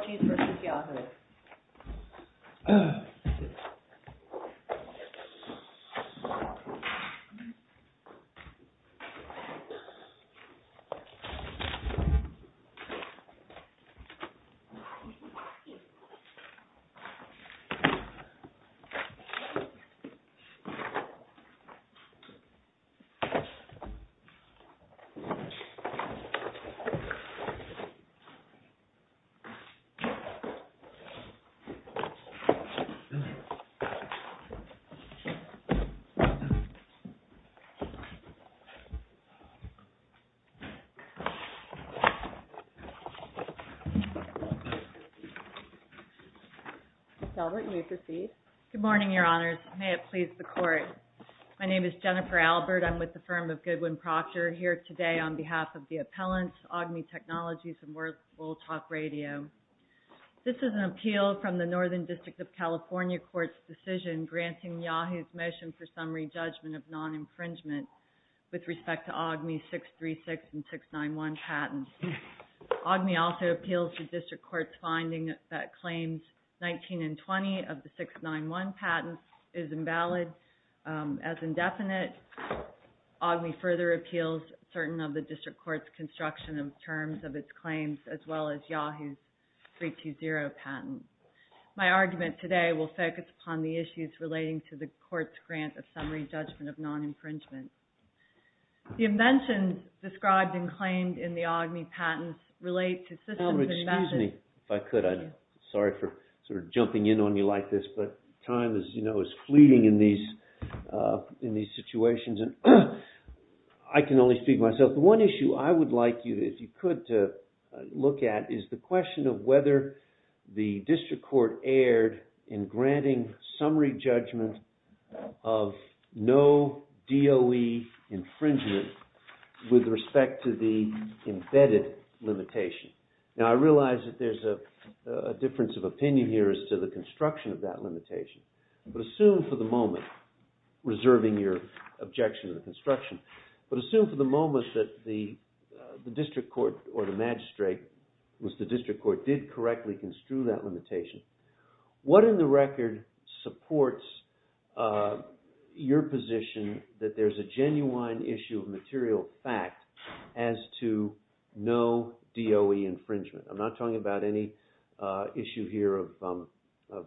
TECHNOLOGIES, V. YAHOO! Good morning, Your Honors, may it please the Court, my name is Jennifer Albert, I'm with the firm of Goodwin Proctor here today on behalf of the Appellant, AUGME TECHNOLOGIES and Wolf Talk Radio. This is an appeal from the Northern District of California Court's decision granting YAHOO!'s motion for summary judgment of non-infringement with respect to AUGME 636 and 691 patents. AUGME also appeals the District Court's finding that claims 19 and 20 of the 691 patents is invalid as indefinite. AUGME further appeals certain of the District Court's construction of terms of its claims as well as YAHOO!'s 320 patents. My argument today will focus upon the issues relating to the Court's grant of summary judgment of non-infringement. The inventions described and claimed in the AUGME patents relate to systems and methods... I can only speak for myself. The one issue I would like you, if you could, to look at is the question of whether the District Court erred in granting summary judgment of no DOE infringement with respect to the embedded limitation. Now, I realize that there's a difference of opinion here as to the construction of that limitation, but assume for the moment, reserving your objection to the construction, but assume for the moment that the District Court or the magistrate, was the District Court, did correctly construe that limitation. What in the record supports your position that there's a genuine issue of material fact as to no DOE infringement? I'm not talking about any issue here of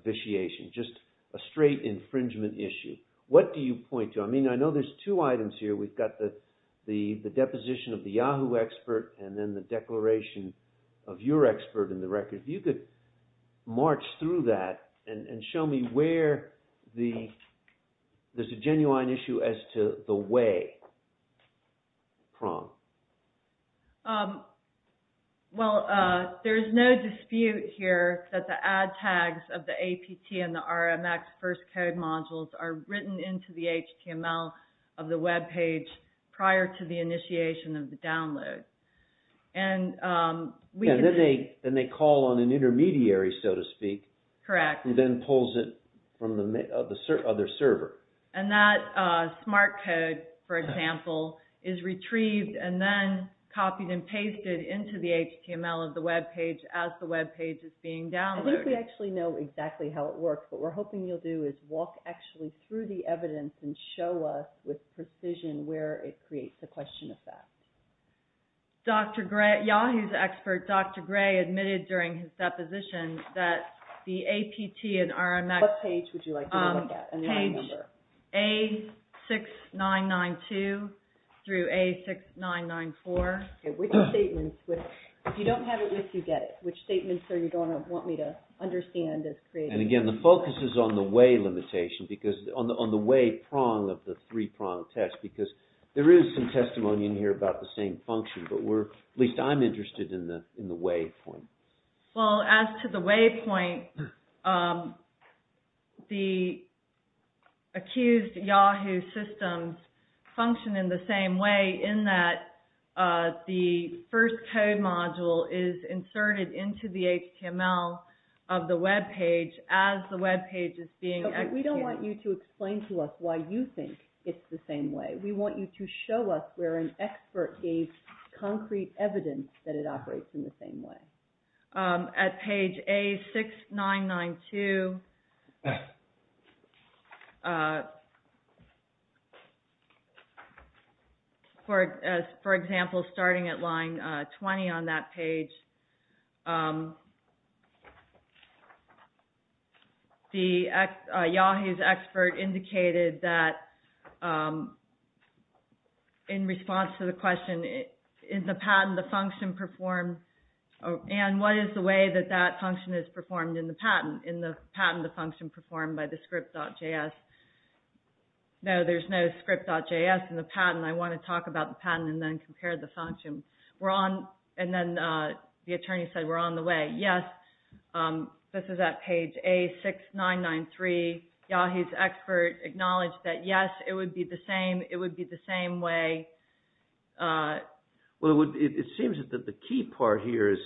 vitiation, just a straight infringement issue. What do you point to? I mean, I know there's two items here. We've got the deposition of the YAHOO! expert and then the declaration of your expert in the record. If you could march through that and show me where there's a genuine issue as to the way. Well, there's no dispute here that the ad tags of the APT and the RMX first code modules are written into the HTML of the webpage prior to the initiation of the download. And we can... I think we actually know exactly how it works. What we're hoping you'll do is walk actually through the evidence and show us with precision where it creates a question of fact. YAHOO!'s expert, Dr. Gray, admitted during his deposition that the APT and RMX... What page would you like to look at? Page A6992 through A6994. Which statements? If you don't have it with you, get it. Which statements do you want me to understand? And again, the focus is on the way limitation, on the way prong of the three prong test, because there is some testimony in here about the same function, but at least I'm interested in the way point. Well, as to the way point, the accused YAHOO! systems function in the same way in that the first code module is inserted into the HTML of the webpage as the webpage is being executed. We don't want you to explain to us why you think it's the same way. We want you to show us where an expert gave concrete evidence that it operates in the same way. At page A6992, for example, starting at line 20 on that page, YAHOO!'s expert indicated that in response to the question, in the patent, the function performed... Ann, what is the way that that function is performed in the patent? In the patent, the function performed by the script.js? No, there's no script.js in the patent. I want to talk about the patent and then compare the function. And then the attorney said we're on the way. Yes, this is at page A6993. YAHOO!'s expert acknowledged that yes, it would be the same. It would be the same way. Well, it seems that the key part here is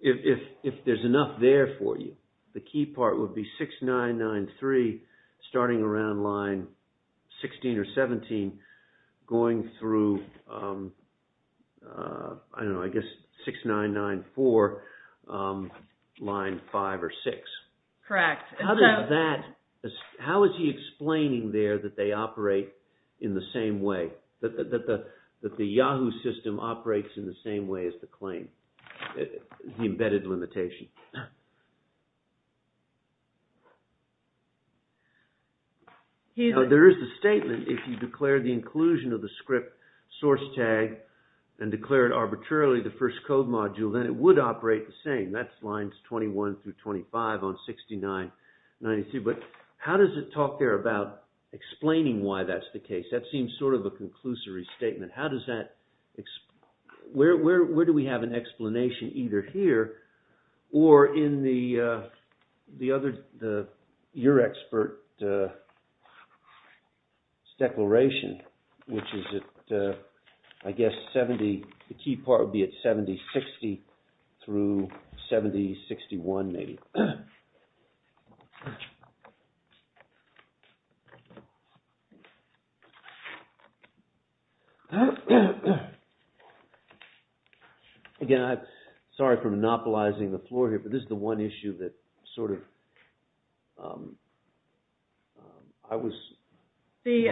if there's enough there for you, the key part would be 6993 starting around line 16 or 17 going through, I don't know, I guess 6994 line 5 or 6. Correct. How is he explaining there that they operate in the same way, that the YAHOO!'s system operates in the same way as the claim, the embedded limitation? There is a statement if you declare the inclusion of the script source tag and declare it arbitrarily the first code module, then it would operate the same. That's lines 21 through 25 on 6993. But how does it talk there about explaining why that's the case? That seems sort of a conclusory statement. How does that – where do we have an explanation either here or in the other – your expert's declaration, which is at, I guess, 70 – the key part would be at 7060 through 7061 maybe. Again, I'm sorry for monopolizing the floor here, but this is the one issue that sort of – I was – The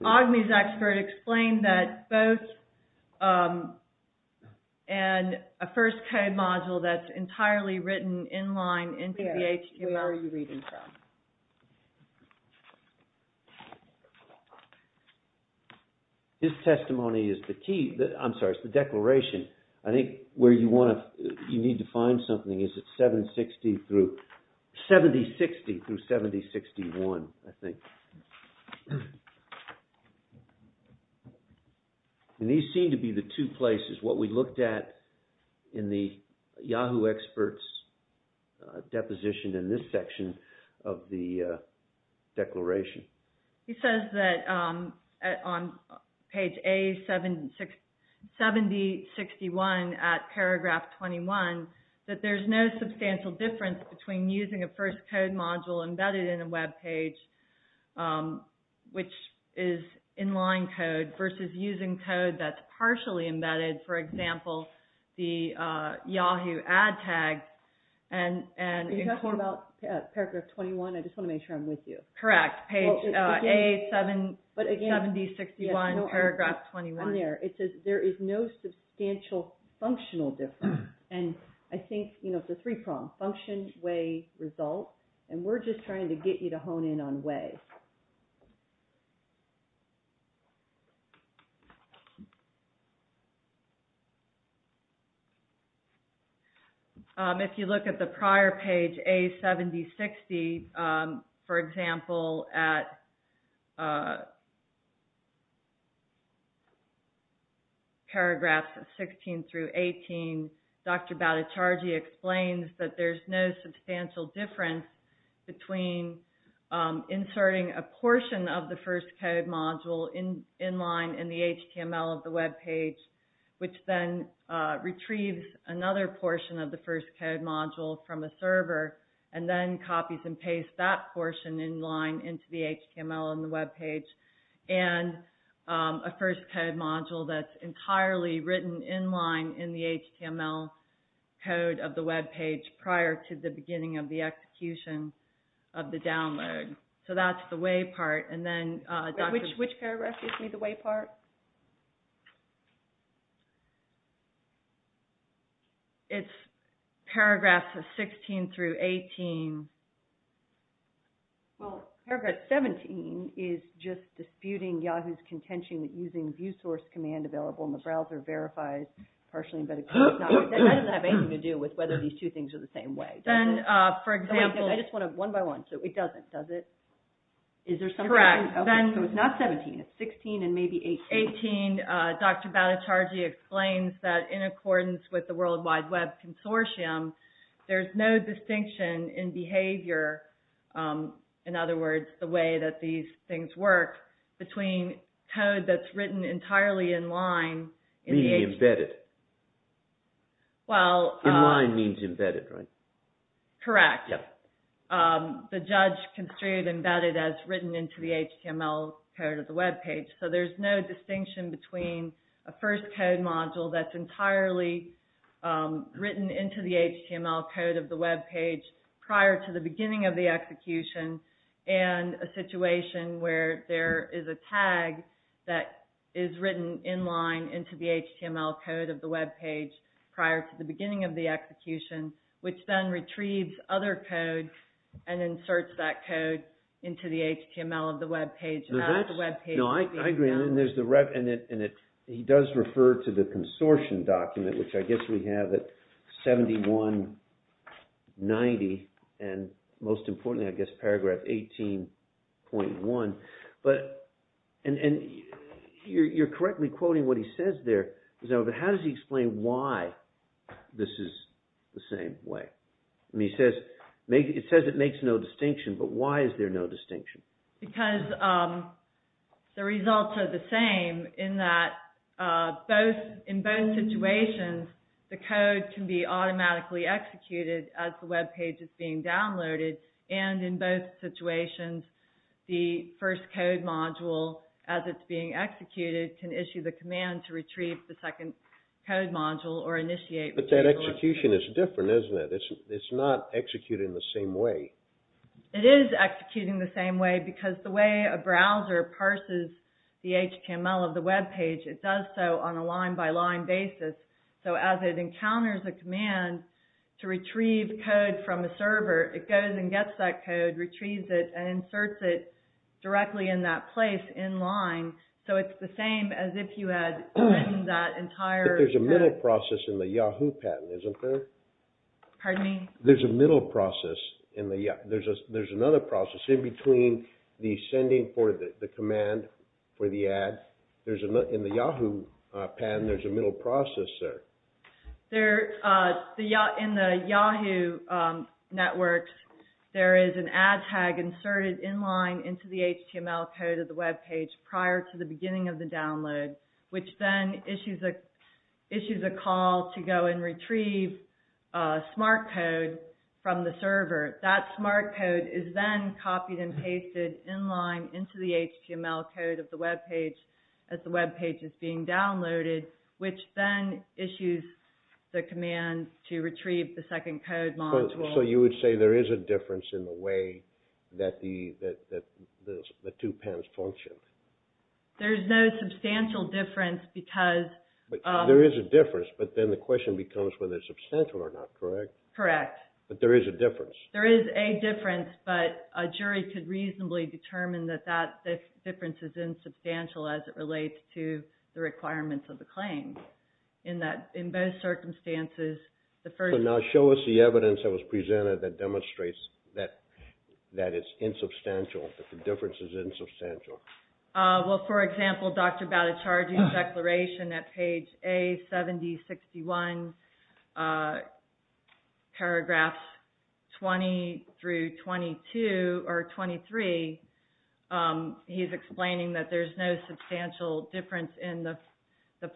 OGMI's expert explained that both – and a first code module that's entirely written in line into the HQR you're reading from. His testimony is the key – I'm sorry, it's the declaration. I think where you want to – you need to find something is at 760 through – 7060 through 7061, I think. And these seem to be the two places. What we looked at in the Yahoo expert's deposition in this section of the declaration. He says that on page A7061 at paragraph 21 that there's no substantial difference between using a first code module embedded in a webpage, which is inline code, versus using code that's partially embedded. For example, the Yahoo ad tag and – Are you talking about paragraph 21? I just want to make sure I'm with you. Correct. Page A7061, paragraph 21. It's on there. It says there is no substantial functional difference. And I think, you know, it's a three-pronged function, way, result. And we're just trying to get you to hone in on way. If you look at the prior page, A7060, for example, at paragraphs 16 through 18, Dr. Bhattacharjee explains that there's no substantial difference between inserting a portion of the first code module inline in the HTML of the webpage, which then retrieves another portion of the first code module from a server, and then copies and pastes that portion inline into the HTML of the webpage. And a first code module that's entirely written inline in the HTML code of the webpage prior to the beginning of the execution of the download. So that's the way part. Which paragraph gives me the way part? It's paragraphs of 16 through 18. Well, paragraph 17 is just disputing Yahoo's contention that using view source command available in the browser verifies partially embedded code. That doesn't have anything to do with whether these two things are the same way. I just want to, one by one, so it doesn't, does it? Correct. So it's not 17, it's 16 and maybe 18. 18, Dr. Bhattacharjee explains that in accordance with the World Wide Web Consortium, there's no distinction in behavior, in other words, the way that these things work, between code that's written entirely inline. Embedded. Inline means embedded, right? Correct. The judge construed embedded as written into the HTML code of the webpage. So there's no distinction between a first code module that's entirely written into the HTML code of the webpage prior to the beginning of the execution and a situation where there is a tag that is written inline into the HTML code of the webpage prior to the beginning of the execution, which then retrieves other code and inserts that code into the HTML of the webpage. I agree, and he does refer to the consortium document, which I guess we have at 7190, and most importantly, I guess, paragraph 18.1. And you're correctly quoting what he says there, but how does he explain why this is the same way? He says it makes no distinction, but why is there no distinction? Because the results are the same, in that in both situations, the code can be automatically executed as the webpage is being downloaded, and in both situations, the first code module, as it's being executed, can issue the command to retrieve the second code module or initiate. But that execution is different, isn't it? It's not executed in the same way. It is executed in the same way, because the way a browser parses the HTML of the webpage, it does so on a line-by-line basis. So as it encounters a command to retrieve code from a server, it goes and gets that code, retrieves it, and inserts it directly in that place inline. So it's the same as if you had written that entire... There's a middle process in the Yahoo! patent, isn't there? Pardon me? There's a middle process. There's another process in between the sending for the command for the ad. In the Yahoo! patent, there's a middle process there. In the Yahoo! networks, there is an ad tag inserted inline into the HTML code of the webpage prior to the beginning of the download, which then issues a call to go and retrieve smart code from the server. That smart code is then copied and pasted inline into the HTML code of the webpage as the webpage is being downloaded, which then issues the command to retrieve the second code module. So you would say there is a difference in the way that the two pens function? There's no substantial difference, because... There is a difference, but then the question becomes whether it's substantial or not, correct? Correct. But there is a difference? There is a difference, but a jury could reasonably determine that that difference is insubstantial as it relates to the requirements of the claim. In both circumstances, the first... So now show us the evidence that was presented that demonstrates that it's insubstantial, that the difference is insubstantial. Well, for example, Dr. Bhattacharya's declaration at page A7061, paragraphs 20-23, he's explaining that there's no substantial difference in the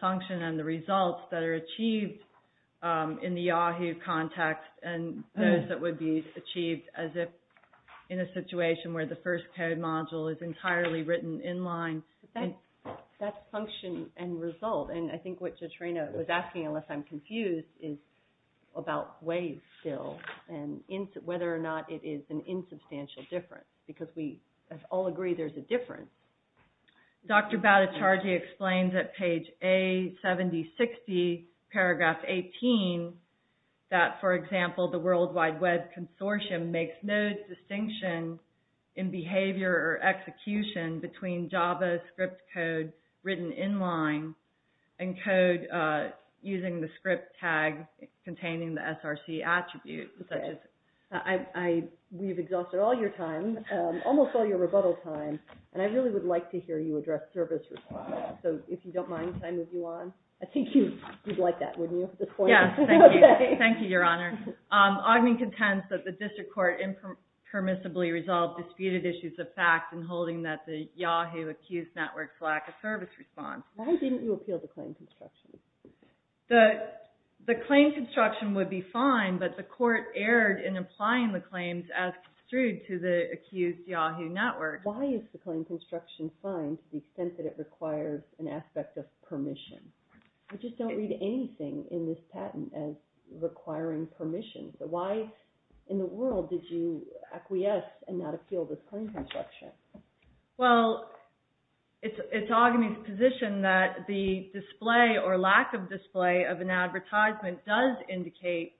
function and the results that are achieved in the Yahoo! context and those that would be achieved as if in a situation where the first code module is entirely written inline. But that's function and result, and I think what Jotrena was asking, unless I'm confused, is about ways, still, and whether or not it is an insubstantial difference, because we all agree there's a difference. Dr. Bhattacharya explains at page A7060, paragraph 18, that, for example, the World Wide Web Consortium makes no distinction in behavior or execution between JavaScript code written inline and code using the script tag containing the SRC attribute. We've exhausted all your time, almost all your rebuttal time, and I really would like to hear you address service response. So if you don't mind, can I move you on? I think you'd like that, wouldn't you, at this point? Yes, thank you. Thank you, Your Honor. Ogden contends that the district court impermissibly resolved disputed issues of fact in holding that the Yahoo! accused network's lack of service response. Why didn't you appeal the claim construction? The claim construction would be fine, but the court erred in applying the claims as construed to the accused Yahoo! network. Why is the claim construction fine to the extent that it requires an aspect of permission? I just don't read anything in this patent as requiring permission. So why in the world did you acquiesce and not appeal the claim construction? Well, it's Ogden's position that the display or lack of display of an advertisement does indicate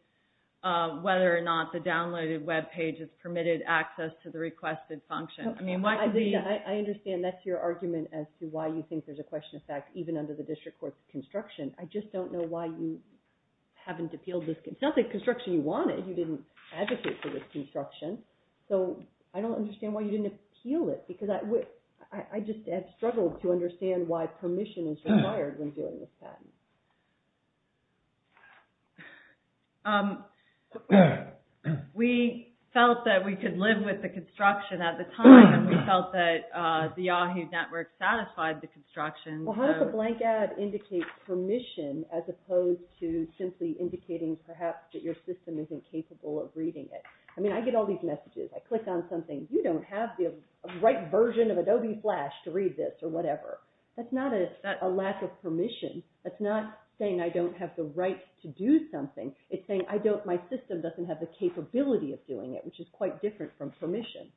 whether or not the downloaded web page is permitted access to the requested function. I understand that's your argument as to why you think there's a question of fact even under the district court's construction. I just don't know why you haven't appealed this. It's not the construction you wanted. You didn't advocate for this construction, so I don't understand why you didn't appeal it, because I just have struggled to understand why permission is required when doing this patent. We felt that we could live with the construction at the time, and we felt that the Yahoo! network satisfied the construction. Well, how does a blank ad indicate permission as opposed to simply indicating perhaps that your system isn't capable of reading it? I mean, I get all these messages. I click on something. You don't have the right version of Adobe Flash to read this or whatever. That's not a lack of permission. That's not saying I don't have the right to do something. It's saying my system doesn't have the capability of doing it, which is quite different from permission.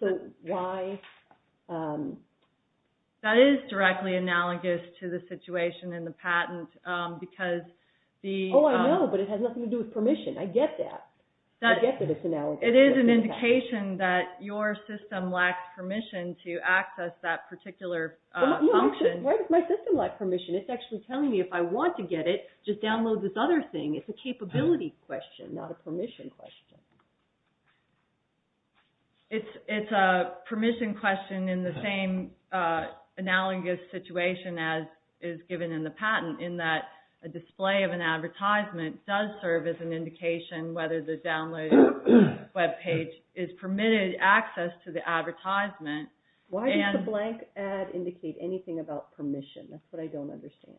That is directly analogous to the situation in the patent. Oh, I know, but it has nothing to do with permission. I get that. It is an indication that your system lacks permission to access that particular function. Where does my system lack permission? It's actually telling me if I want to get it, just download this other thing. It's a capability question, not a permission question. It's a permission question in the same analogous situation as is given in the patent, in that a display of an advertisement does serve as an indication whether the download web page is permitted access to the advertisement. Why does the blank ad indicate anything about permission? That's what I don't understand.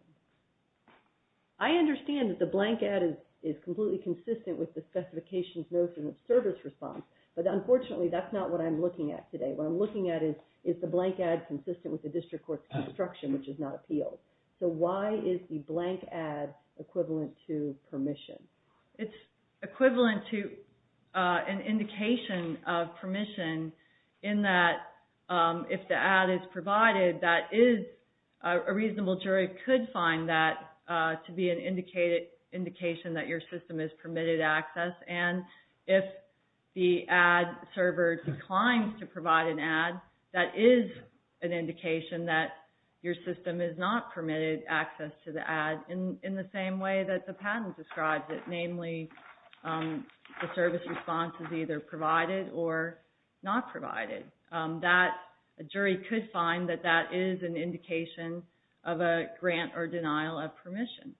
I understand that the blank ad is completely consistent with the specifications notice and service response, but unfortunately that's not what I'm looking at today. What I'm looking at is, is the blank ad consistent with the district court's instruction, which is not appealed. So why is the blank ad equivalent to permission? It's equivalent to an indication of permission in that if the ad is provided, that is, a reasonable jury could find that to be an indication that your system is permitted access, and if the ad server declines to provide an ad, that is an indication that your system is not permitted access to the ad. In the same way that the patent describes it, namely the service response is either provided or not provided. A jury could find that that is an indication of a grant or denial of permission.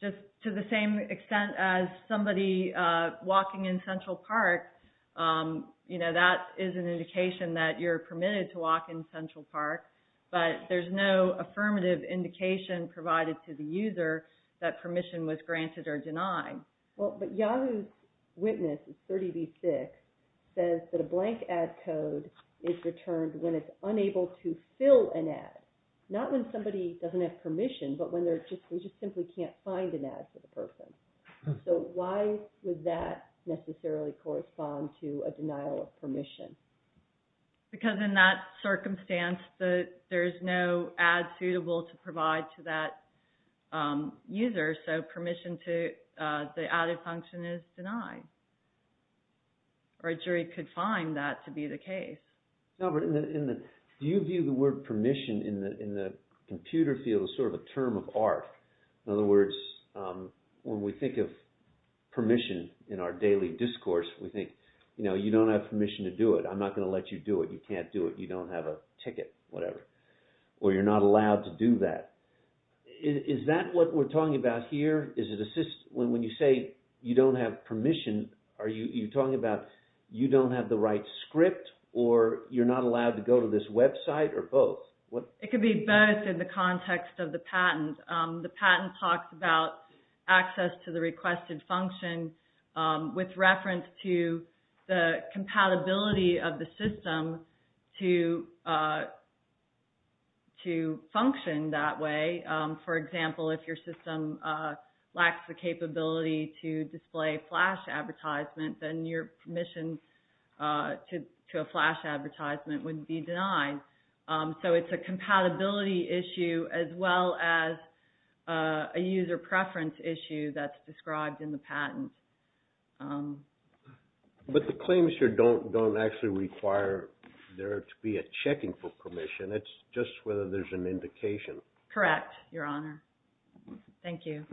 Just to the same extent as somebody walking in Central Park, that is an indication that you're permitted to walk in Central Park, but there's no affirmative indication provided to the user that permission was granted or denied. Well, but Yahoo's witness, 30B6, says that a blank ad code is returned when it's unable to fill an ad. Not when somebody doesn't have permission, but when they just simply can't find an ad for the person. So why would that necessarily correspond to a denial of permission? Because in that circumstance, there's no ad suitable to provide to that user, so permission to the added function is denied. Or a jury could find that to be the case. Robert, do you view the word permission in the computer field as sort of a term of art? In other words, when we think of permission in our daily discourse, we think you don't have permission to do it. I'm not going to let you do it. You can't do it. You don't have a ticket, whatever. Or you're not allowed to do that. Is that what we're talking about here? When you say you don't have permission, are you talking about you don't have the right script, or you're not allowed to go to this website, or both? It could be both in the context of the patent. The patent talks about access to the requested function with reference to the compatibility of the system to function that way. For example, if your system lacks the capability to display flash advertisements, then your permission to a flash advertisement would be denied. So it's a compatibility issue as well as a user preference issue that's described in the patent. But the claims here don't actually require there to be a checking for permission. It's just whether there's an indication. Correct, Your Honor. Thank you.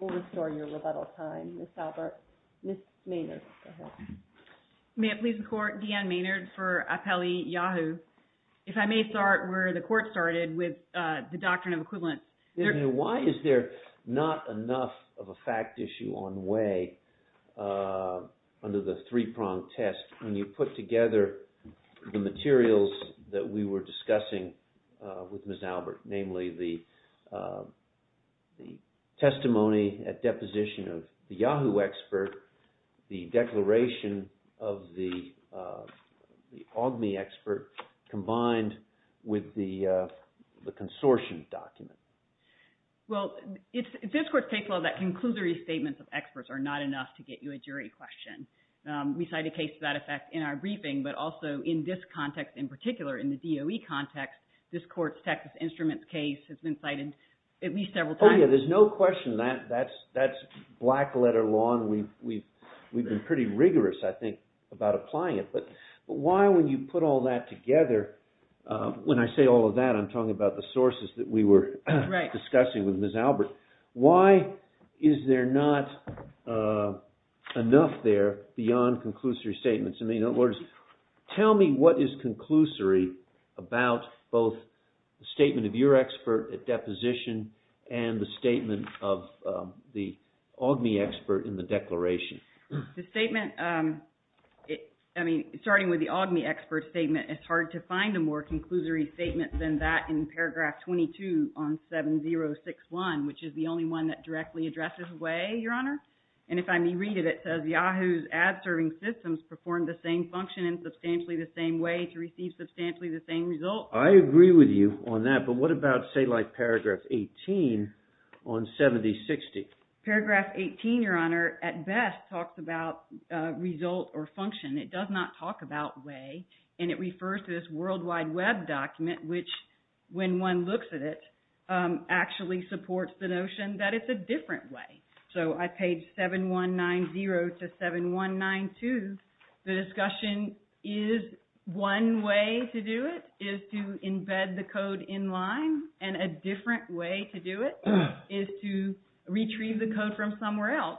We'll restore your rebuttal time, Ms. Albert. Ms. Maynard, go ahead. May it please the Court? Deanne Maynard for Apelli Yahoo. If I may start where the Court started with the doctrine of equivalent. Why is there not enough of a fact issue on way under the three-pronged test when you put together the materials that we were discussing with Ms. Albert, namely the testimony at deposition of the Yahoo expert, the declaration of the AWGMI expert combined with the consortium document? Well, this Court's case law that conclusory statements of experts are not enough to get you a jury question. We cite a case to that effect in our briefing, but also in this context in particular, in the DOE context, this Court's Texas Instruments case has been cited at least several times. Well, yeah, there's no question that that's black-letter law, and we've been pretty rigorous, I think, about applying it. But why, when you put all that together, when I say all of that, I'm talking about the sources that we were discussing with Ms. Albert. Why is there not enough there beyond conclusory statements? I mean, in other words, tell me what is conclusory about both the statement of your expert at deposition and the statement of the AWGMI expert in the declaration. The statement – I mean, starting with the AWGMI expert statement, it's hard to find a more conclusory statement than that in paragraph 22 on 7061, which is the only one that directly addresses way, Your Honor. And if I may read it, it says Yahoo's ad-serving systems perform the same function in substantially the same way to receive substantially the same results. I agree with you on that, but what about, say, like paragraph 18 on 7060? Paragraph 18, Your Honor, at best talks about result or function. It does not talk about way, and it refers to this World Wide Web document, which, when one looks at it, actually supports the notion that it's a different way. So on page 7190 to 7192, the discussion is one way to do it is to embed the code in line, and a different way to do it is to retrieve the code from somewhere else.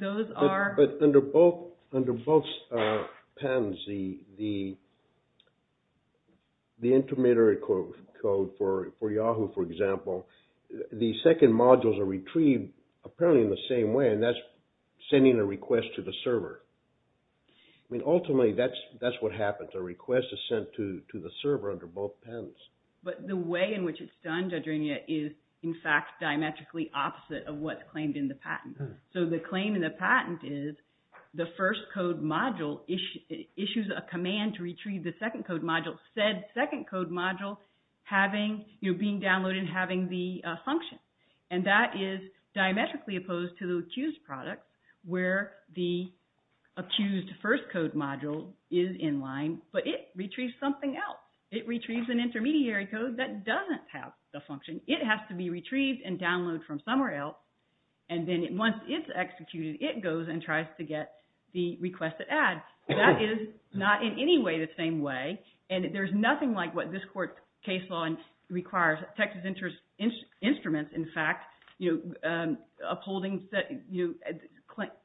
Those are – the intermediary code for Yahoo, for example, the second modules are retrieved apparently in the same way, and that's sending a request to the server. I mean, ultimately, that's what happens. A request is sent to the server under both pens. But the way in which it's done, Judge Renia, is, in fact, diametrically opposite of what's claimed in the patent. So the claim in the patent is the first code module issues a command to retrieve the second code module, said second code module being downloaded and having the function. And that is diametrically opposed to the accused product, where the accused first code module is in line, but it retrieves something else. It retrieves an intermediary code that doesn't have the function. It has to be retrieved and downloaded from somewhere else. And then once it's executed, it goes and tries to get the requested ad. That is not in any way the same way, and there's nothing like what this court's case law requires. Texas Instruments, in fact, upholding –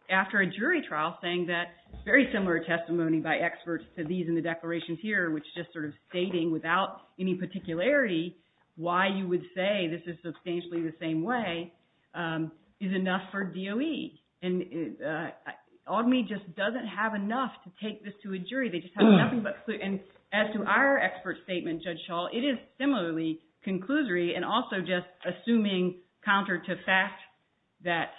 after a jury trial saying that very similar testimony by experts to these in the declarations here, which just sort of stating without any particularity why you would say this is substantially the same way. That is enough for DOE. And AWGME just doesn't have enough to take this to a jury. They just have nothing but – and as to our expert statement, Judge Schall, it is similarly conclusory and also just assuming counter to fact that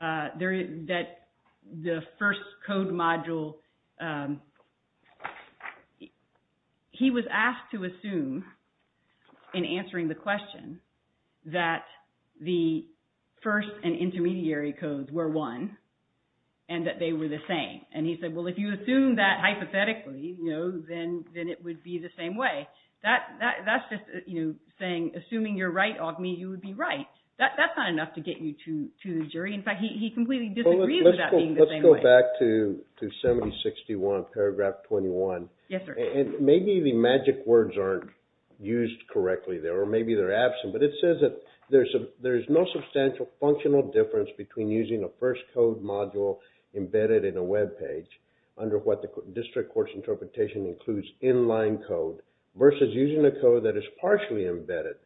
the first code module – he was asked to assume, in answering the question, that the first and intermediary codes were one and that they were the same. And he said, well, if you assume that hypothetically, then it would be the same way. That's just saying, assuming you're right, AWGME, you would be right. That's not enough to get you to the jury. In fact, he completely disagrees with that being the same way. Let's go back to 7061, paragraph 21. Maybe the magic words aren't used correctly there, or maybe they're absent, but it says that there's no substantial functional difference between using a first code module embedded in a webpage under what the district court's interpretation includes in-line code versus using a code that is partially embedded.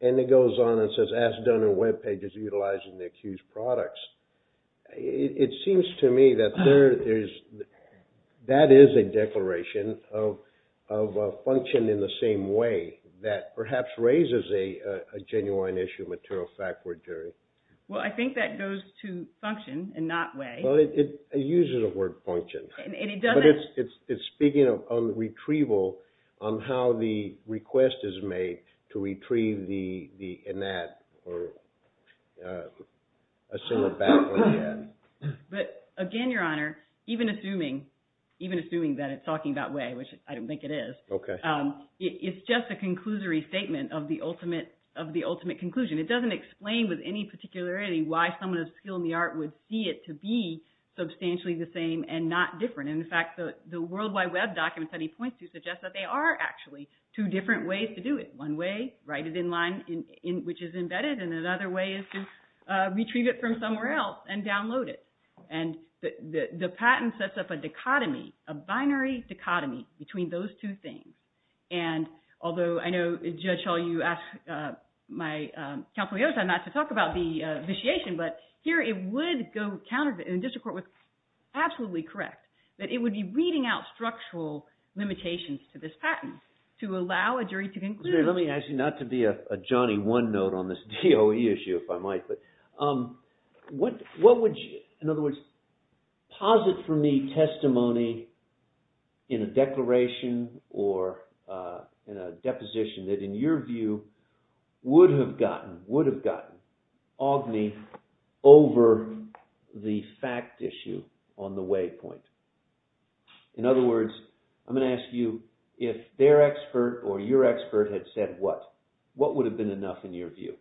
And it goes on and says, as done in webpages utilizing the accused products. It seems to me that there is – that is a declaration of function in the same way that perhaps raises a genuine issue of material fact for a jury. Well, I think that goes to function and not way. It uses the word function. And it doesn't – But it's speaking of retrieval on how the request is made to retrieve the in-at or assume a bad way in the end. In fact, the World Wide Web document that he points to suggests that there are actually two different ways to do it. One way, write it in-line, which is embedded, and another way is to retrieve it from somewhere else and download it. And the patent sets up a dichotomy, a binary dichotomy between those two things. And although I know, Judge Hull, you asked my counsel, Yosa, not to talk about the vitiation, but here it would go counter – and the district court was absolutely correct that it would be reading out structural limitations to this patent to allow a jury to conclude. Let me ask you, not to be a Johnny OneNote on this DOE issue, if I might, but what would you – in other words, posit for me testimony in a declaration or in a deposition that, in your view, would have gotten – would have gotten – over the fact issue on the waypoint? In other words, I'm going to ask you, if their expert or your expert had said what, what would have been enough in your view?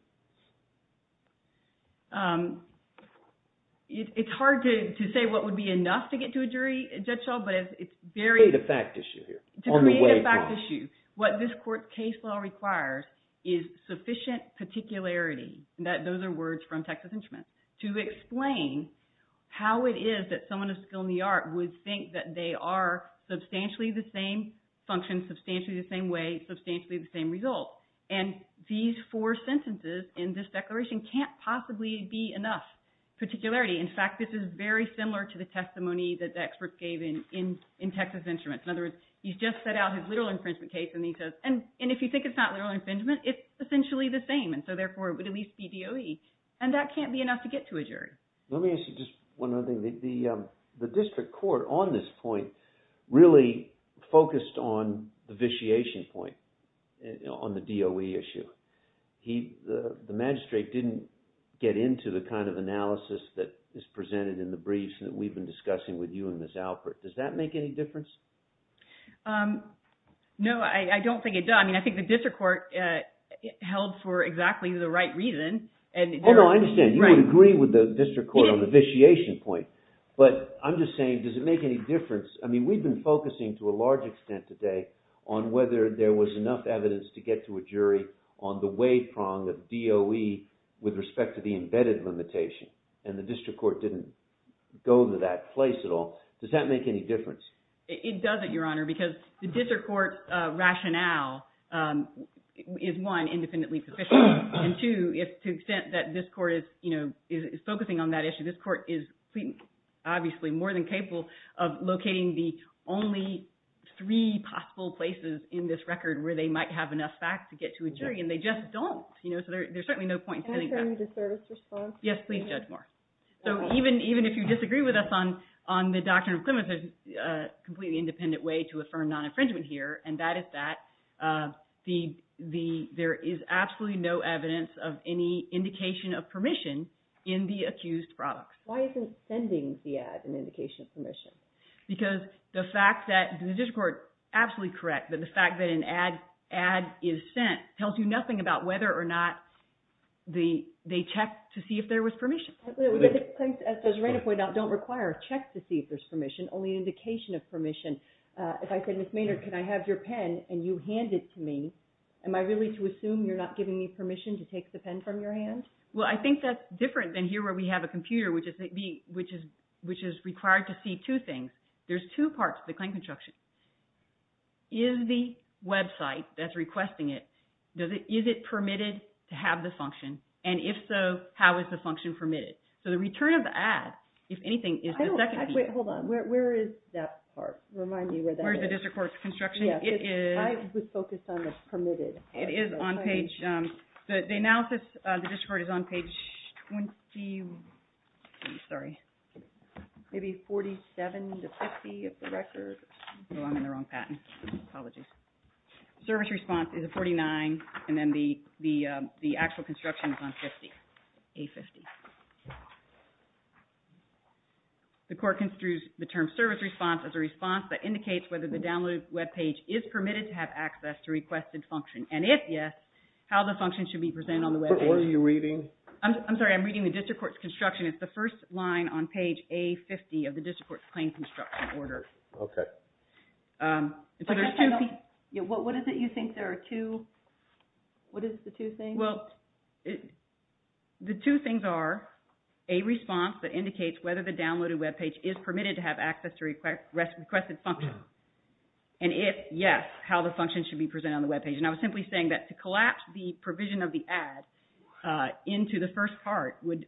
It's hard to say what would be enough to get to a jury, Judge Hull, but it's very – To create a fact issue here on the waypoint. To create a fact issue, what this court's case law requires is sufficient particularity. Those are words from Texas Instruments to explain how it is that someone of skill in the art would think that they are substantially the same function, substantially the same way, substantially the same result. And these four sentences in this declaration can't possibly be enough particularity. In fact, this is very similar to the testimony that the experts gave in Texas Instruments. In other words, he's just set out his literal infringement case, and he says – and if you think it's not literal infringement, it's essentially the same, and so therefore it would at least be DOE. And that can't be enough to get to a jury. Let me ask you just one other thing. The district court on this point really focused on the vitiation point on the DOE issue. The magistrate didn't get into the kind of analysis that is presented in the briefs that we've been discussing with you and Ms. Alpert. Does that make any difference? No, I don't think it does. I mean I think the district court held for exactly the right reason. Oh, no, I understand. You would agree with the district court on the vitiation point, but I'm just saying does it make any difference? I mean we've been focusing to a large extent today on whether there was enough evidence to get to a jury on the way prong of DOE with respect to the embedded limitation, and the district court didn't go to that place at all. Does that make any difference? It doesn't, Your Honor, because the district court's rationale is one, independently proficient, and two, to the extent that this court is focusing on that issue, this court is obviously more than capable of locating the only three possible places in this record where they might have enough facts to get to a jury, and they just don't. So there's certainly no point in sitting back. Can I tell you the third response? Yes, please, Judge Moore. So even if you disagree with us on the doctrine of clemency, a completely independent way to affirm non-infringement here, and that is that there is absolutely no evidence of any indication of permission in the accused products. Why isn't sending the ad an indication of permission? Because the fact that the district court, absolutely correct, but the fact that an ad is sent tells you nothing about whether or not they checked to see if there was permission. As Judge Reina pointed out, don't require a check to see if there's permission, only an indication of permission. If I said, Ms. Maynard, can I have your pen, and you hand it to me, am I really to assume you're not giving me permission to take the pen from your hand? Well, I think that's different than here where we have a computer, which is required to see two things. There's two parts to the claim construction. Is the website that's requesting it, is it permitted to have the function? And if so, how is the function permitted? So the return of the ad, if anything, is the second piece. Wait, hold on. Where is that part? Remind me where that is. Where is the district court construction? I was focused on the permitted. It is on page... The analysis of the district court is on page 20, sorry. Maybe 47 to 50 of the record. Oh, I'm in the wrong patent. Apologies. Service response is a 49, and then the actual construction is on 50, A50. The court construes the term service response as a response that indicates whether the download web page is permitted to have access to requested function. And if yes, how the function should be presented on the web page. What are you reading? I'm sorry, I'm reading the district court's construction. It's the first line on page A50 of the district court's claim construction order. Okay. So there's two... What is it you think there are two... What is the two things? Well, the two things are a response that indicates whether the downloaded web page is permitted to have access to requested function. And if yes, how the function should be presented on the web page. And I was simply saying that to collapse the provision of the ad into the first part would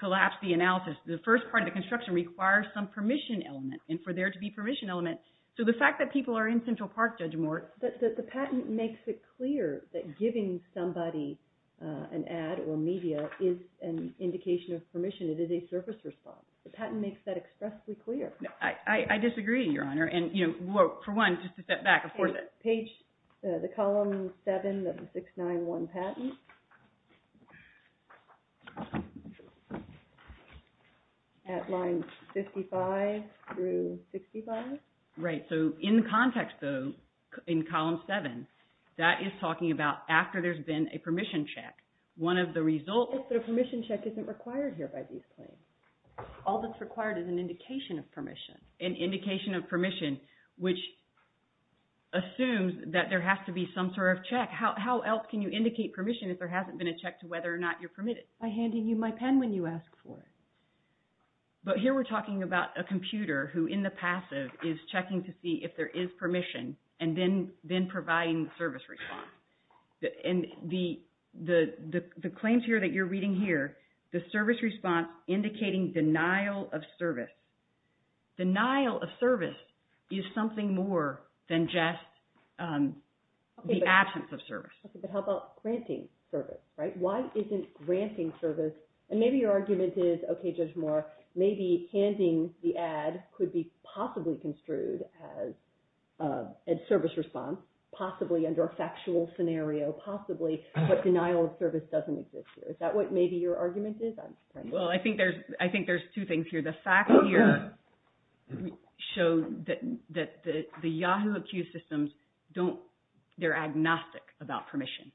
collapse the analysis. The first part of the construction requires some permission element, and for there to be permission element... So the fact that people are in Central Park, Judge Moore... But the patent makes it clear that giving somebody an ad or media is an indication of permission. It is a service response. The patent makes that expressly clear. I disagree, Your Honor. And, you know, for one, just to step back, of course... Page, the column 7 of the 691 patent. At line 55 through 65. Right. So in context, though, in column 7, that is talking about after there's been a permission check. One of the results... But a permission check isn't required here by these claims. All that's required is an indication of permission. An indication of permission, which assumes that there has to be some sort of check. How else can you indicate permission if there hasn't been a check to whether or not you're permitted? By handing you my pen when you ask for it. But here we're talking about a computer who, in the passive, is checking to see if there is permission and then providing service response. And the claims here that you're reading here, the service response indicating denial of service. Denial of service is something more than just the absence of service. But how about granting service, right? Why isn't granting service... And maybe your argument is, okay, Judge Moore, maybe handing the ad could be possibly construed as service response, possibly under a factual scenario, possibly. But denial of service doesn't exist here. Is that what maybe your argument is? Well, I think there's two things here. The facts here show that the Yahoo Accused systems, they're agnostic about permission.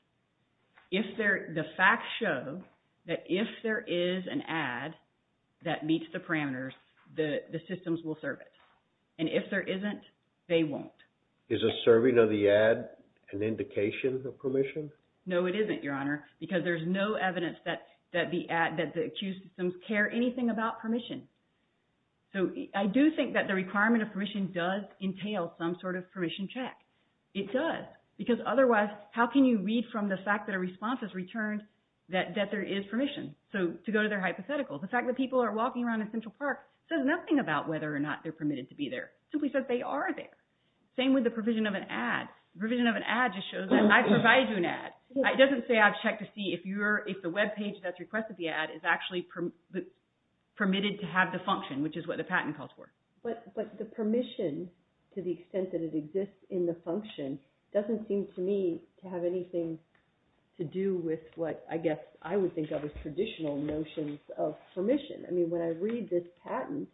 The facts show that if there is an ad that meets the parameters, the systems will serve it. And if there isn't, they won't. Is a serving of the ad an indication of permission? No, it isn't, Your Honor. Because there's no evidence that the accused systems care anything about permission. So I do think that the requirement of permission does entail some sort of permission check. It does. Because otherwise, how can you read from the fact that a response is returned that there is permission? So to go to their hypothetical, the fact that people are walking around in Central Park says nothing about whether or not they're permitted to be there. It simply says they are there. Same with the provision of an ad. The provision of an ad just shows that I provide you an ad. It doesn't say I've checked to see if the webpage that's requested the ad is actually permitted to have the function, which is what the patent calls for. But the permission, to the extent that it exists in the function, doesn't seem to me to have anything to do with what I guess I would think of as traditional notions of permission. I mean, when I read this patent,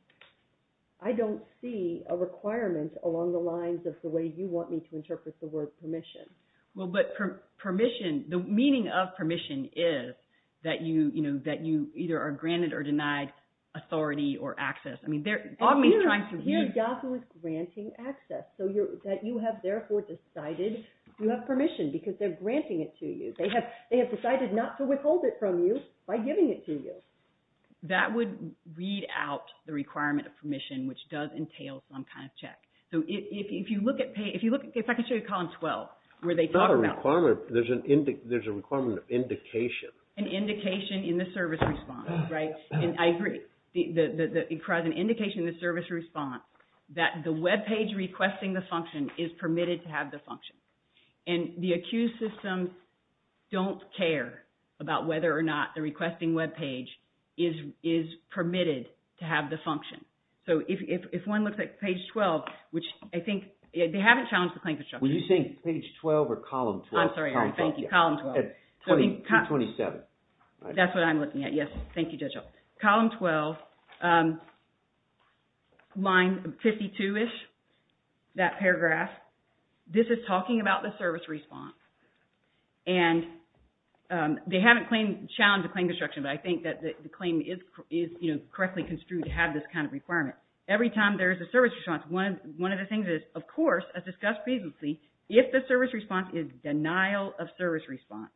I don't see a requirement along the lines of the way you want me to interpret the word permission. Well, but permission, the meaning of permission is that you either are granted or denied authority or access. I mean, they're often trying to read… Here's Yahoo! is granting access. So that you have therefore decided you have permission because they're granting it to you. They have decided not to withhold it from you by giving it to you. That would read out the requirement of permission, which does entail some kind of check. So if you look at page… if I can show you column 12, where they talk about… It's not a requirement. There's a requirement of indication. An indication in the service response, right? And I agree. It provides an indication in the service response that the webpage requesting the function is permitted to have the function. And the accused systems don't care about whether or not the requesting webpage is permitted to have the function. So if one looks at page 12, which I think… they haven't challenged the claim construction. Were you saying page 12 or column 12? I'm sorry. Thank you. Column 12. At page 27. That's what I'm looking at. Yes. Thank you, Judge. Column 12, line 52-ish, that paragraph, this is talking about the service response. And they haven't challenged the claim construction, but I think that the claim is correctly construed to have this kind of requirement. Every time there is a service response, one of the things is, of course, as discussed previously, if the service response is denial of service response,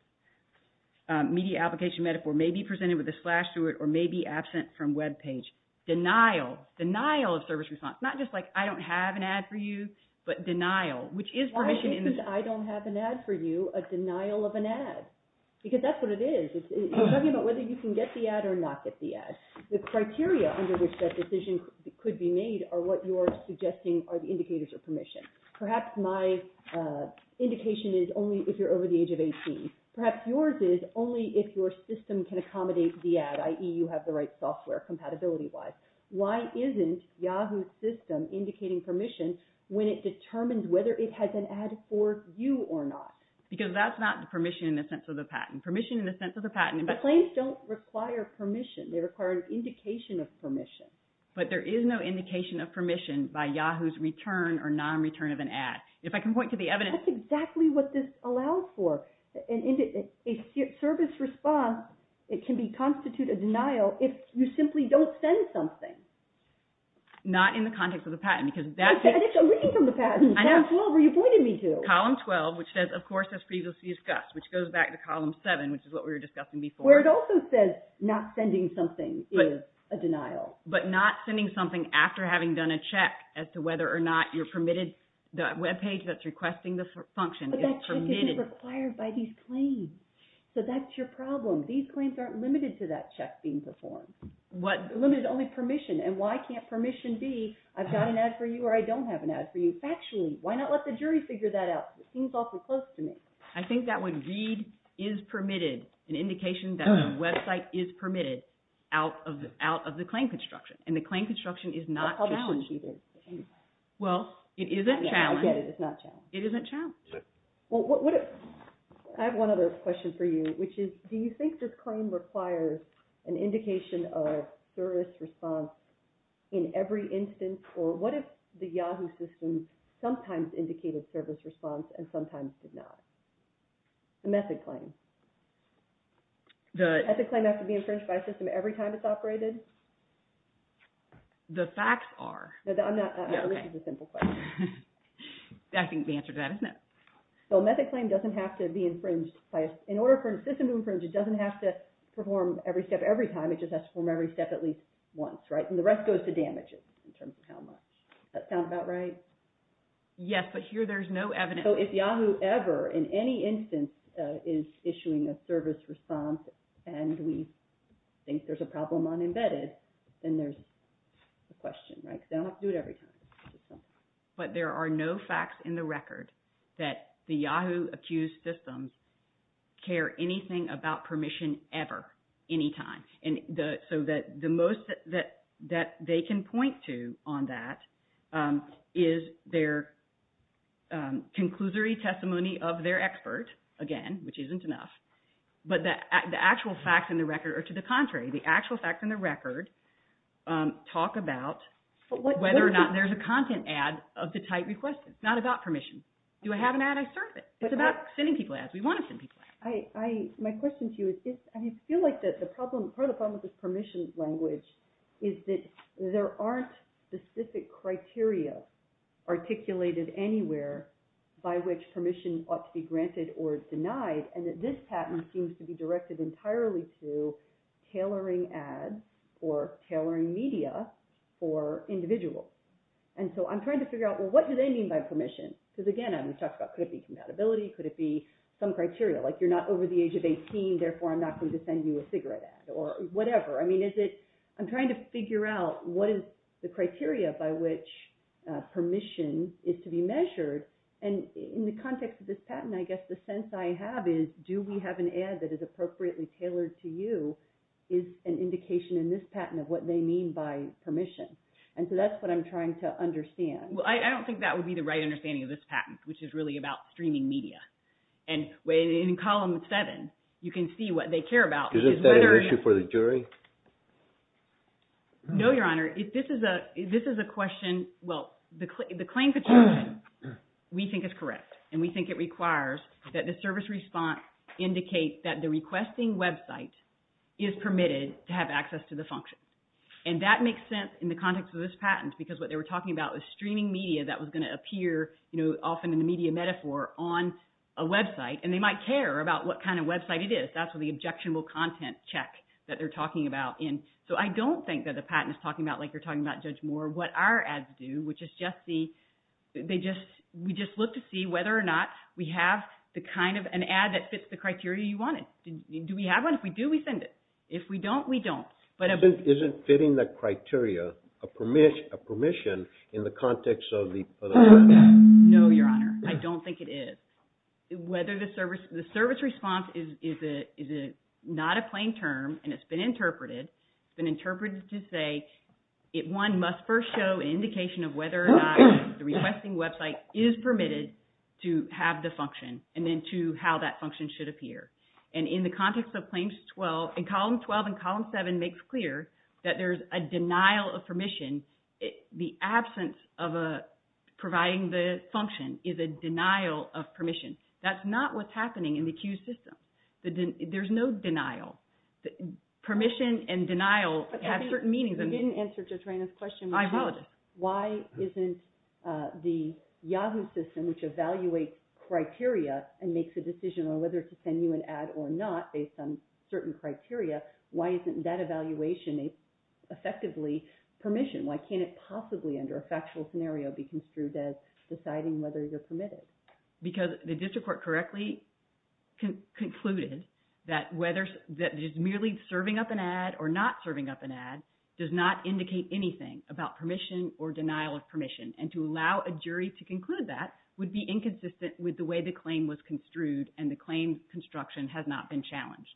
media application metaphor may be presented with a slash through it or may be absent from webpage. Denial. Denial of service response. Not just like I don't have an ad for you, but denial, which is permission in… a denial of an ad. Because that's what it is. You're talking about whether you can get the ad or not get the ad. The criteria under which that decision could be made are what you're suggesting are the indicators of permission. Perhaps my indication is only if you're over the age of 18. Perhaps yours is only if your system can accommodate the ad, i.e., you have the right software compatibility-wise. Why isn't Yahoo's system indicating permission when it determines whether it has an ad for you or not? Because that's not permission in the sense of the patent. Permission in the sense of the patent… But claims don't require permission. They require an indication of permission. But there is no indication of permission by Yahoo's return or non-return of an ad. If I can point to the evidence… That's exactly what this allows for. A service response, it can constitute a denial if you simply don't send something. Not in the context of the patent, because that's… And it's a reading from the patent, column 12, where you pointed me to. Column 12, which says, of course, as previously discussed, which goes back to column 7, which is what we were discussing before. Where it also says not sending something is a denial. But not sending something after having done a check as to whether or not you're permitted… The webpage that's requesting the function is permitted. Permission is required by these claims. So that's your problem. These claims aren't limited to that check being performed. What… Limited to only permission. And why can't permission be, I've got an ad for you or I don't have an ad for you? Factually, why not let the jury figure that out? It seems awfully close to me. I think that would read, is permitted, an indication that the website is permitted, out of the claim construction. And the claim construction is not challenged. Well, it isn't challenged. I get it. It's not challenged. It isn't challenged. Well, what if… I have one other question for you, which is, do you think this claim requires an indication of service response in every instance? Or what if the Yahoo system sometimes indicated service response and sometimes did not? The method claim. The… The method claim has to be inferred by the system every time it's operated? The facts are… No, I'm not… Okay. This is a simple question. I think the answer to that is no. So, a method claim doesn't have to be infringed by a… In order for a system to infringe, it doesn't have to perform every step every time. It just has to perform every step at least once, right? And the rest goes to damages in terms of how much. Does that sound about right? Yes, but here there's no evidence… So, if Yahoo ever, in any instance, is issuing a service response and we think there's a problem on embedded, then there's a question, right? They don't do it every time. But there are no facts in the record that the Yahoo accused systems care anything about permission ever, any time. And so, the most that they can point to on that is their conclusory testimony of their expert, again, which isn't enough. But the actual facts in the record are to the contrary. The actual facts in the record talk about whether or not there's a content ad of the type requested. It's not about permission. Do I have an ad? I serve it. It's about sending people ads. We want to send people ads. My question to you is, I feel like part of the problem with this permission language is that there aren't specific criteria articulated anywhere by which permission ought to be granted or denied, and that this patent seems to be directed entirely to tailoring ads or tailoring media for individuals. And so, I'm trying to figure out, well, what do they mean by permission? Because, again, we talked about could it be compatibility, could it be some criteria, like you're not over the age of 18, therefore I'm not going to send you a cigarette ad or whatever. I mean, is it – I'm trying to figure out what is the criteria by which permission is to be measured. And in the context of this patent, I guess the sense I have is do we have an ad that is appropriately tailored to you is an indication in this patent of what they mean by permission. And so, that's what I'm trying to understand. Well, I don't think that would be the right understanding of this patent, which is really about streaming media. And in column seven, you can see what they care about is whether – Is this an issue for the jury? No, Your Honor. This is a question – well, the claim petition we think is correct, and we think it requires that the service response indicate that the requesting website is permitted to have access to the function. And that makes sense in the context of this patent, because what they were talking about was streaming media that was going to appear often in the media metaphor on a website. And they might care about what kind of website it is. That's what the objectionable content check that they're talking about in. So, I don't think that the patent is talking about like you're talking about, Judge Moore, what our ads do, which is just the – they just – we just look to see whether or not we have the kind of an ad that fits the criteria you wanted. Do we have one? If we do, we send it. If we don't, we don't. Isn't fitting the criteria a permission in the context of the patent? No, Your Honor. I don't think it is. Whether the service – the service response is not a plain term, and it's been interpreted. It's been interpreted to say it, one, must first show an indication of whether or not the requesting website is permitted to have the function, and then, two, how that function should appear. And in the context of Claims 12 – and Column 12 and Column 7 makes clear that there's a denial of permission. The absence of a – providing the function is a denial of permission. That's not what's happening in the Q system. There's no denial. Permission and denial have certain meanings. You didn't answer Judge Reyna's question. I apologize. Why isn't the Yahoo system, which evaluates criteria and makes a decision on whether to send you an ad or not based on certain criteria, why isn't that evaluation effectively permission? Why can't it possibly, under a factual scenario, be construed as deciding whether you're permitted? Because the district court correctly concluded that whether – that just merely serving up an ad or not serving up an ad does not indicate anything about permission or denial of permission. And to allow a jury to conclude that would be inconsistent with the way the claim was construed and the claim construction has not been challenged.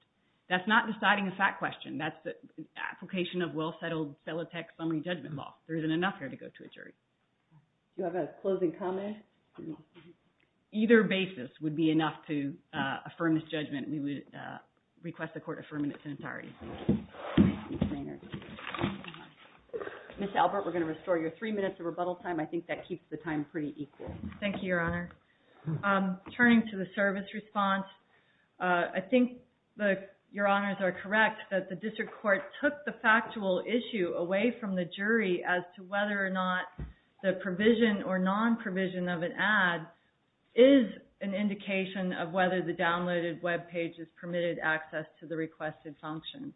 That's not deciding a fact question. That's the application of well-settled felitec summary judgment law. There isn't enough here to go to a jury. Do you have a closing comment? Either basis would be enough to affirm this judgment. We would request the court affirm it. Ms. Albert, we're going to restore your three minutes of rebuttal time. I think that keeps the time pretty equal. Thank you, Your Honor. Turning to the service response, I think Your Honors are correct that the district court took the factual issue away from the jury as to whether or not the provision or non-provision of an ad is an indication of whether the downloaded web page is permitted access to the requested function.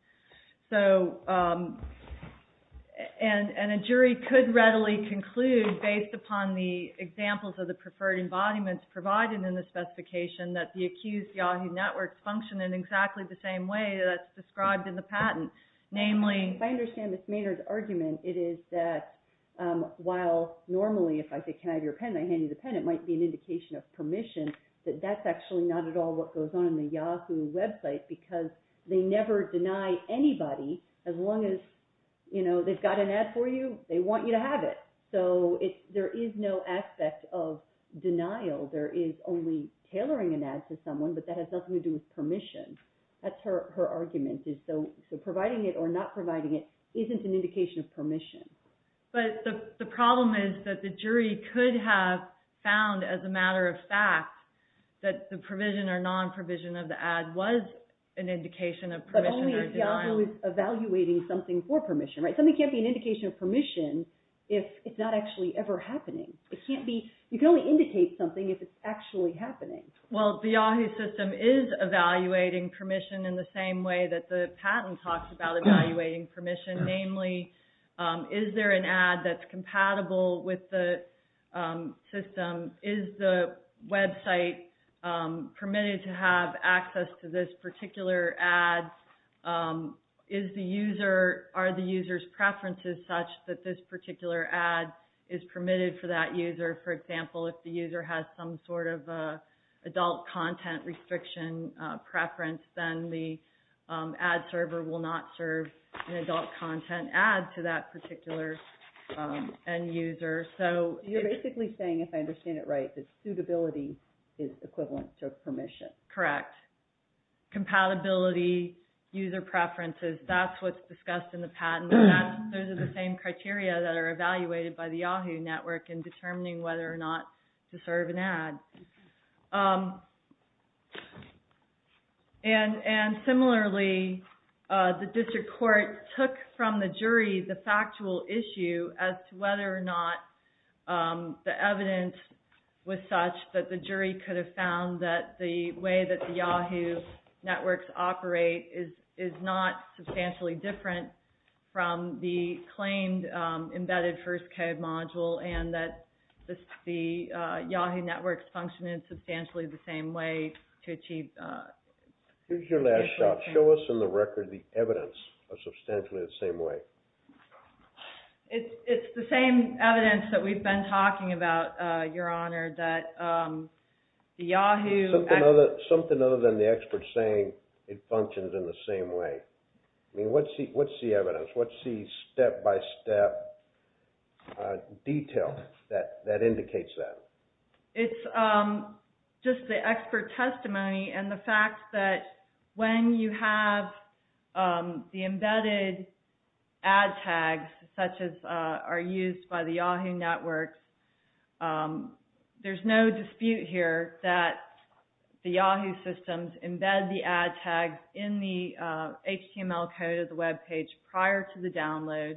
And a jury could readily conclude, based upon the examples of the preferred embodiments provided in the specification, that the accused Yahoo network functioned in exactly the same way that's described in the patent. If I understand Ms. Maynard's argument, it is that while normally if I say can I have your pen and I hand you the pen, it might be an indication of permission, that that's actually not at all what goes on in the Yahoo website because they never deny anybody as long as they've got an ad for you, they want you to have it. So there is no aspect of denial. There is only tailoring an ad to someone, but that has nothing to do with permission. That's her argument. So providing it or not providing it isn't an indication of permission. But the problem is that the jury could have found as a matter of fact that the provision or non-provision of the ad was an indication of permission or denial. But only if Yahoo is evaluating something for permission, right? Something can't be an indication of permission if it's not actually ever happening. You can only indicate something if it's actually happening. Well, the Yahoo system is evaluating permission in the same way that the patent talks about evaluating permission. Namely, is there an ad that's compatible with the system? Is the website permitted to have access to this particular ad? Are the user's preferences such that this particular ad is permitted for that user? For example, if the user has some sort of adult content restriction preference, then the ad server will not serve an adult content ad to that particular end user. So you're basically saying, if I understand it right, that suitability is equivalent to permission. Correct. Compatibility, user preferences, that's what's discussed in the patent. Those are the same criteria that are evaluated by the Yahoo network in determining whether or not to serve an ad. And similarly, the district court took from the jury the factual issue as to whether or not the evidence was such that the jury could have found that the way that the Yahoo networks operate is not substantially different from the claimed embedded First Code module and that the Yahoo networks function in substantially the same way to achieve... Here's your last shot. Show us in the record the evidence of substantially the same way. It's the same evidence that we've been talking about, Your Honor, that the Yahoo... Something other than the experts saying it functions in the same way. What's the evidence? What's the step-by-step detail that indicates that? It's just the expert testimony and the fact that when you have the embedded ad tags, such as are used by the Yahoo network, there's no dispute here that the Yahoo systems embed the ad tags in the HTML code of the webpage prior to the download.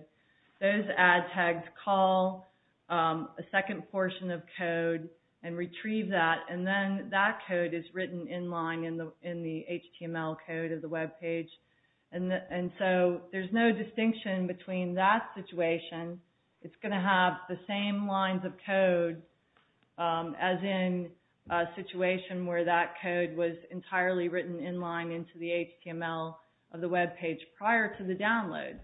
Those ad tags call a second portion of code and retrieve that, and then that code is written in line in the HTML code of the webpage. There's no distinction between that situation. It's going to have the same lines of code as in a situation where that code was entirely written in line into the HTML of the webpage prior to the download.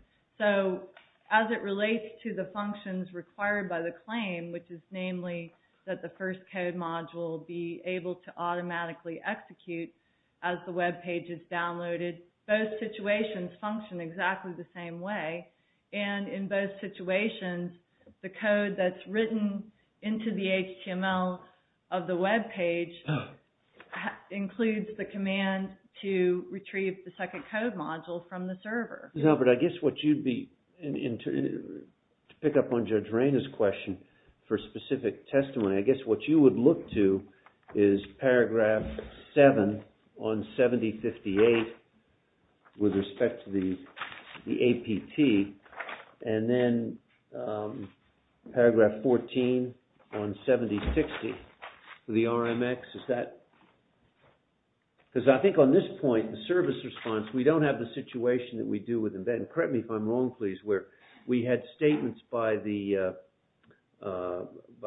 As it relates to the functions required by the claim, which is namely that the first code module be able to automatically execute as the webpage is downloaded, both situations function exactly the same way. In both situations, the code that's written into the HTML of the webpage includes the command to retrieve the second code module from the server. Now, but I guess what you'd be, to pick up on Judge Rainer's question for specific testimony, I guess what you would look to is paragraph 7 on 7058 with respect to the APT, and then paragraph 14 on 7060 with the RMX. Is that, because I think on this point, the service response, we don't have the situation that we do with embed, and correct me if I'm wrong please, where we had statements by the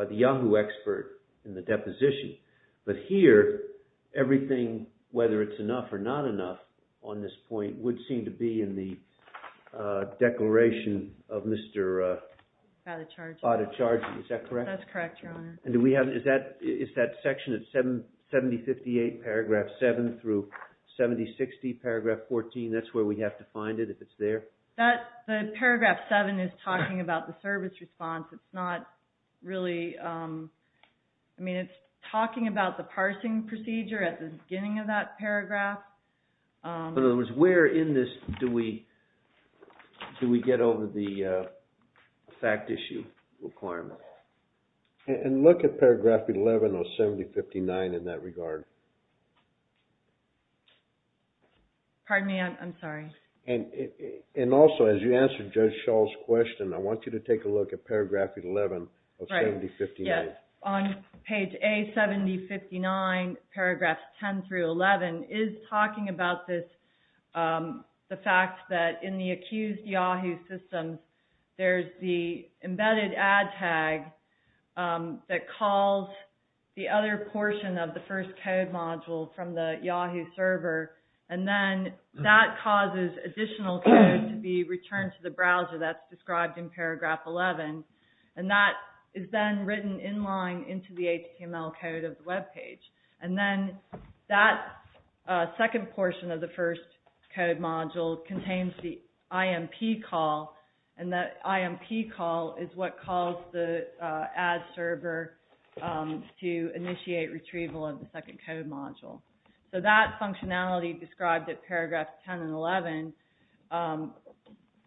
Yahoo expert in the deposition. But here, everything, whether it's enough or not enough on this point, would seem to be in the declaration of Mr. Bada Chargent. Is that correct? That's correct, Your Honor. And do we have, is that section of 7058 paragraph 7 through 7060 paragraph 14, that's where we have to find it if it's there? That, the paragraph 7 is talking about the service response. It's not really, I mean it's talking about the parsing procedure at the beginning of that paragraph. In other words, where in this do we, do we get over the fact issue requirement? And look at paragraph 11 on 7059 in that regard. Pardon me, I'm sorry. And also, as you answered Judge Schall's question, I want you to take a look at paragraph 11 of 7059. Right, yes. On page A, 7059, paragraphs 10 through 11, is talking about this, the fact that in the accused Yahoo system, there's the embedded ad tag that calls the other portion of the first code module from the Yahoo server. And then that causes additional code to be returned to the browser that's described in paragraph 11. And that is then written in line into the HTML code of the webpage. And then that second portion of the first code module contains the IMP call. And that IMP call is what calls the ad server to initiate retrieval of the second code module. So that functionality described at paragraph 10 and 11,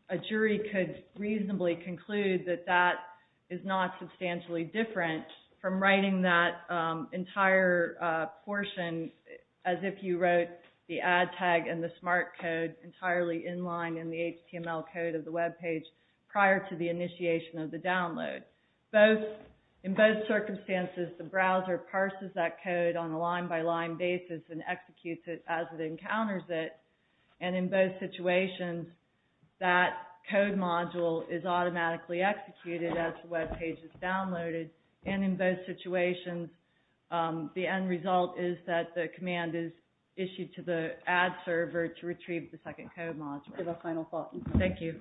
a jury could reasonably conclude that that is not substantially different from writing that entire portion as if you wrote the ad tag and the smart code entirely in line in the HTML code of the webpage prior to the initiation of the download. In both circumstances, the browser parses that code on a line-by-line basis and executes it as it encounters it. And in both situations, that code module is automatically executed as the webpage is downloaded. And in both situations, the end result is that the command is issued to the ad server to retrieve the second code module. Give a final thought. Thank you.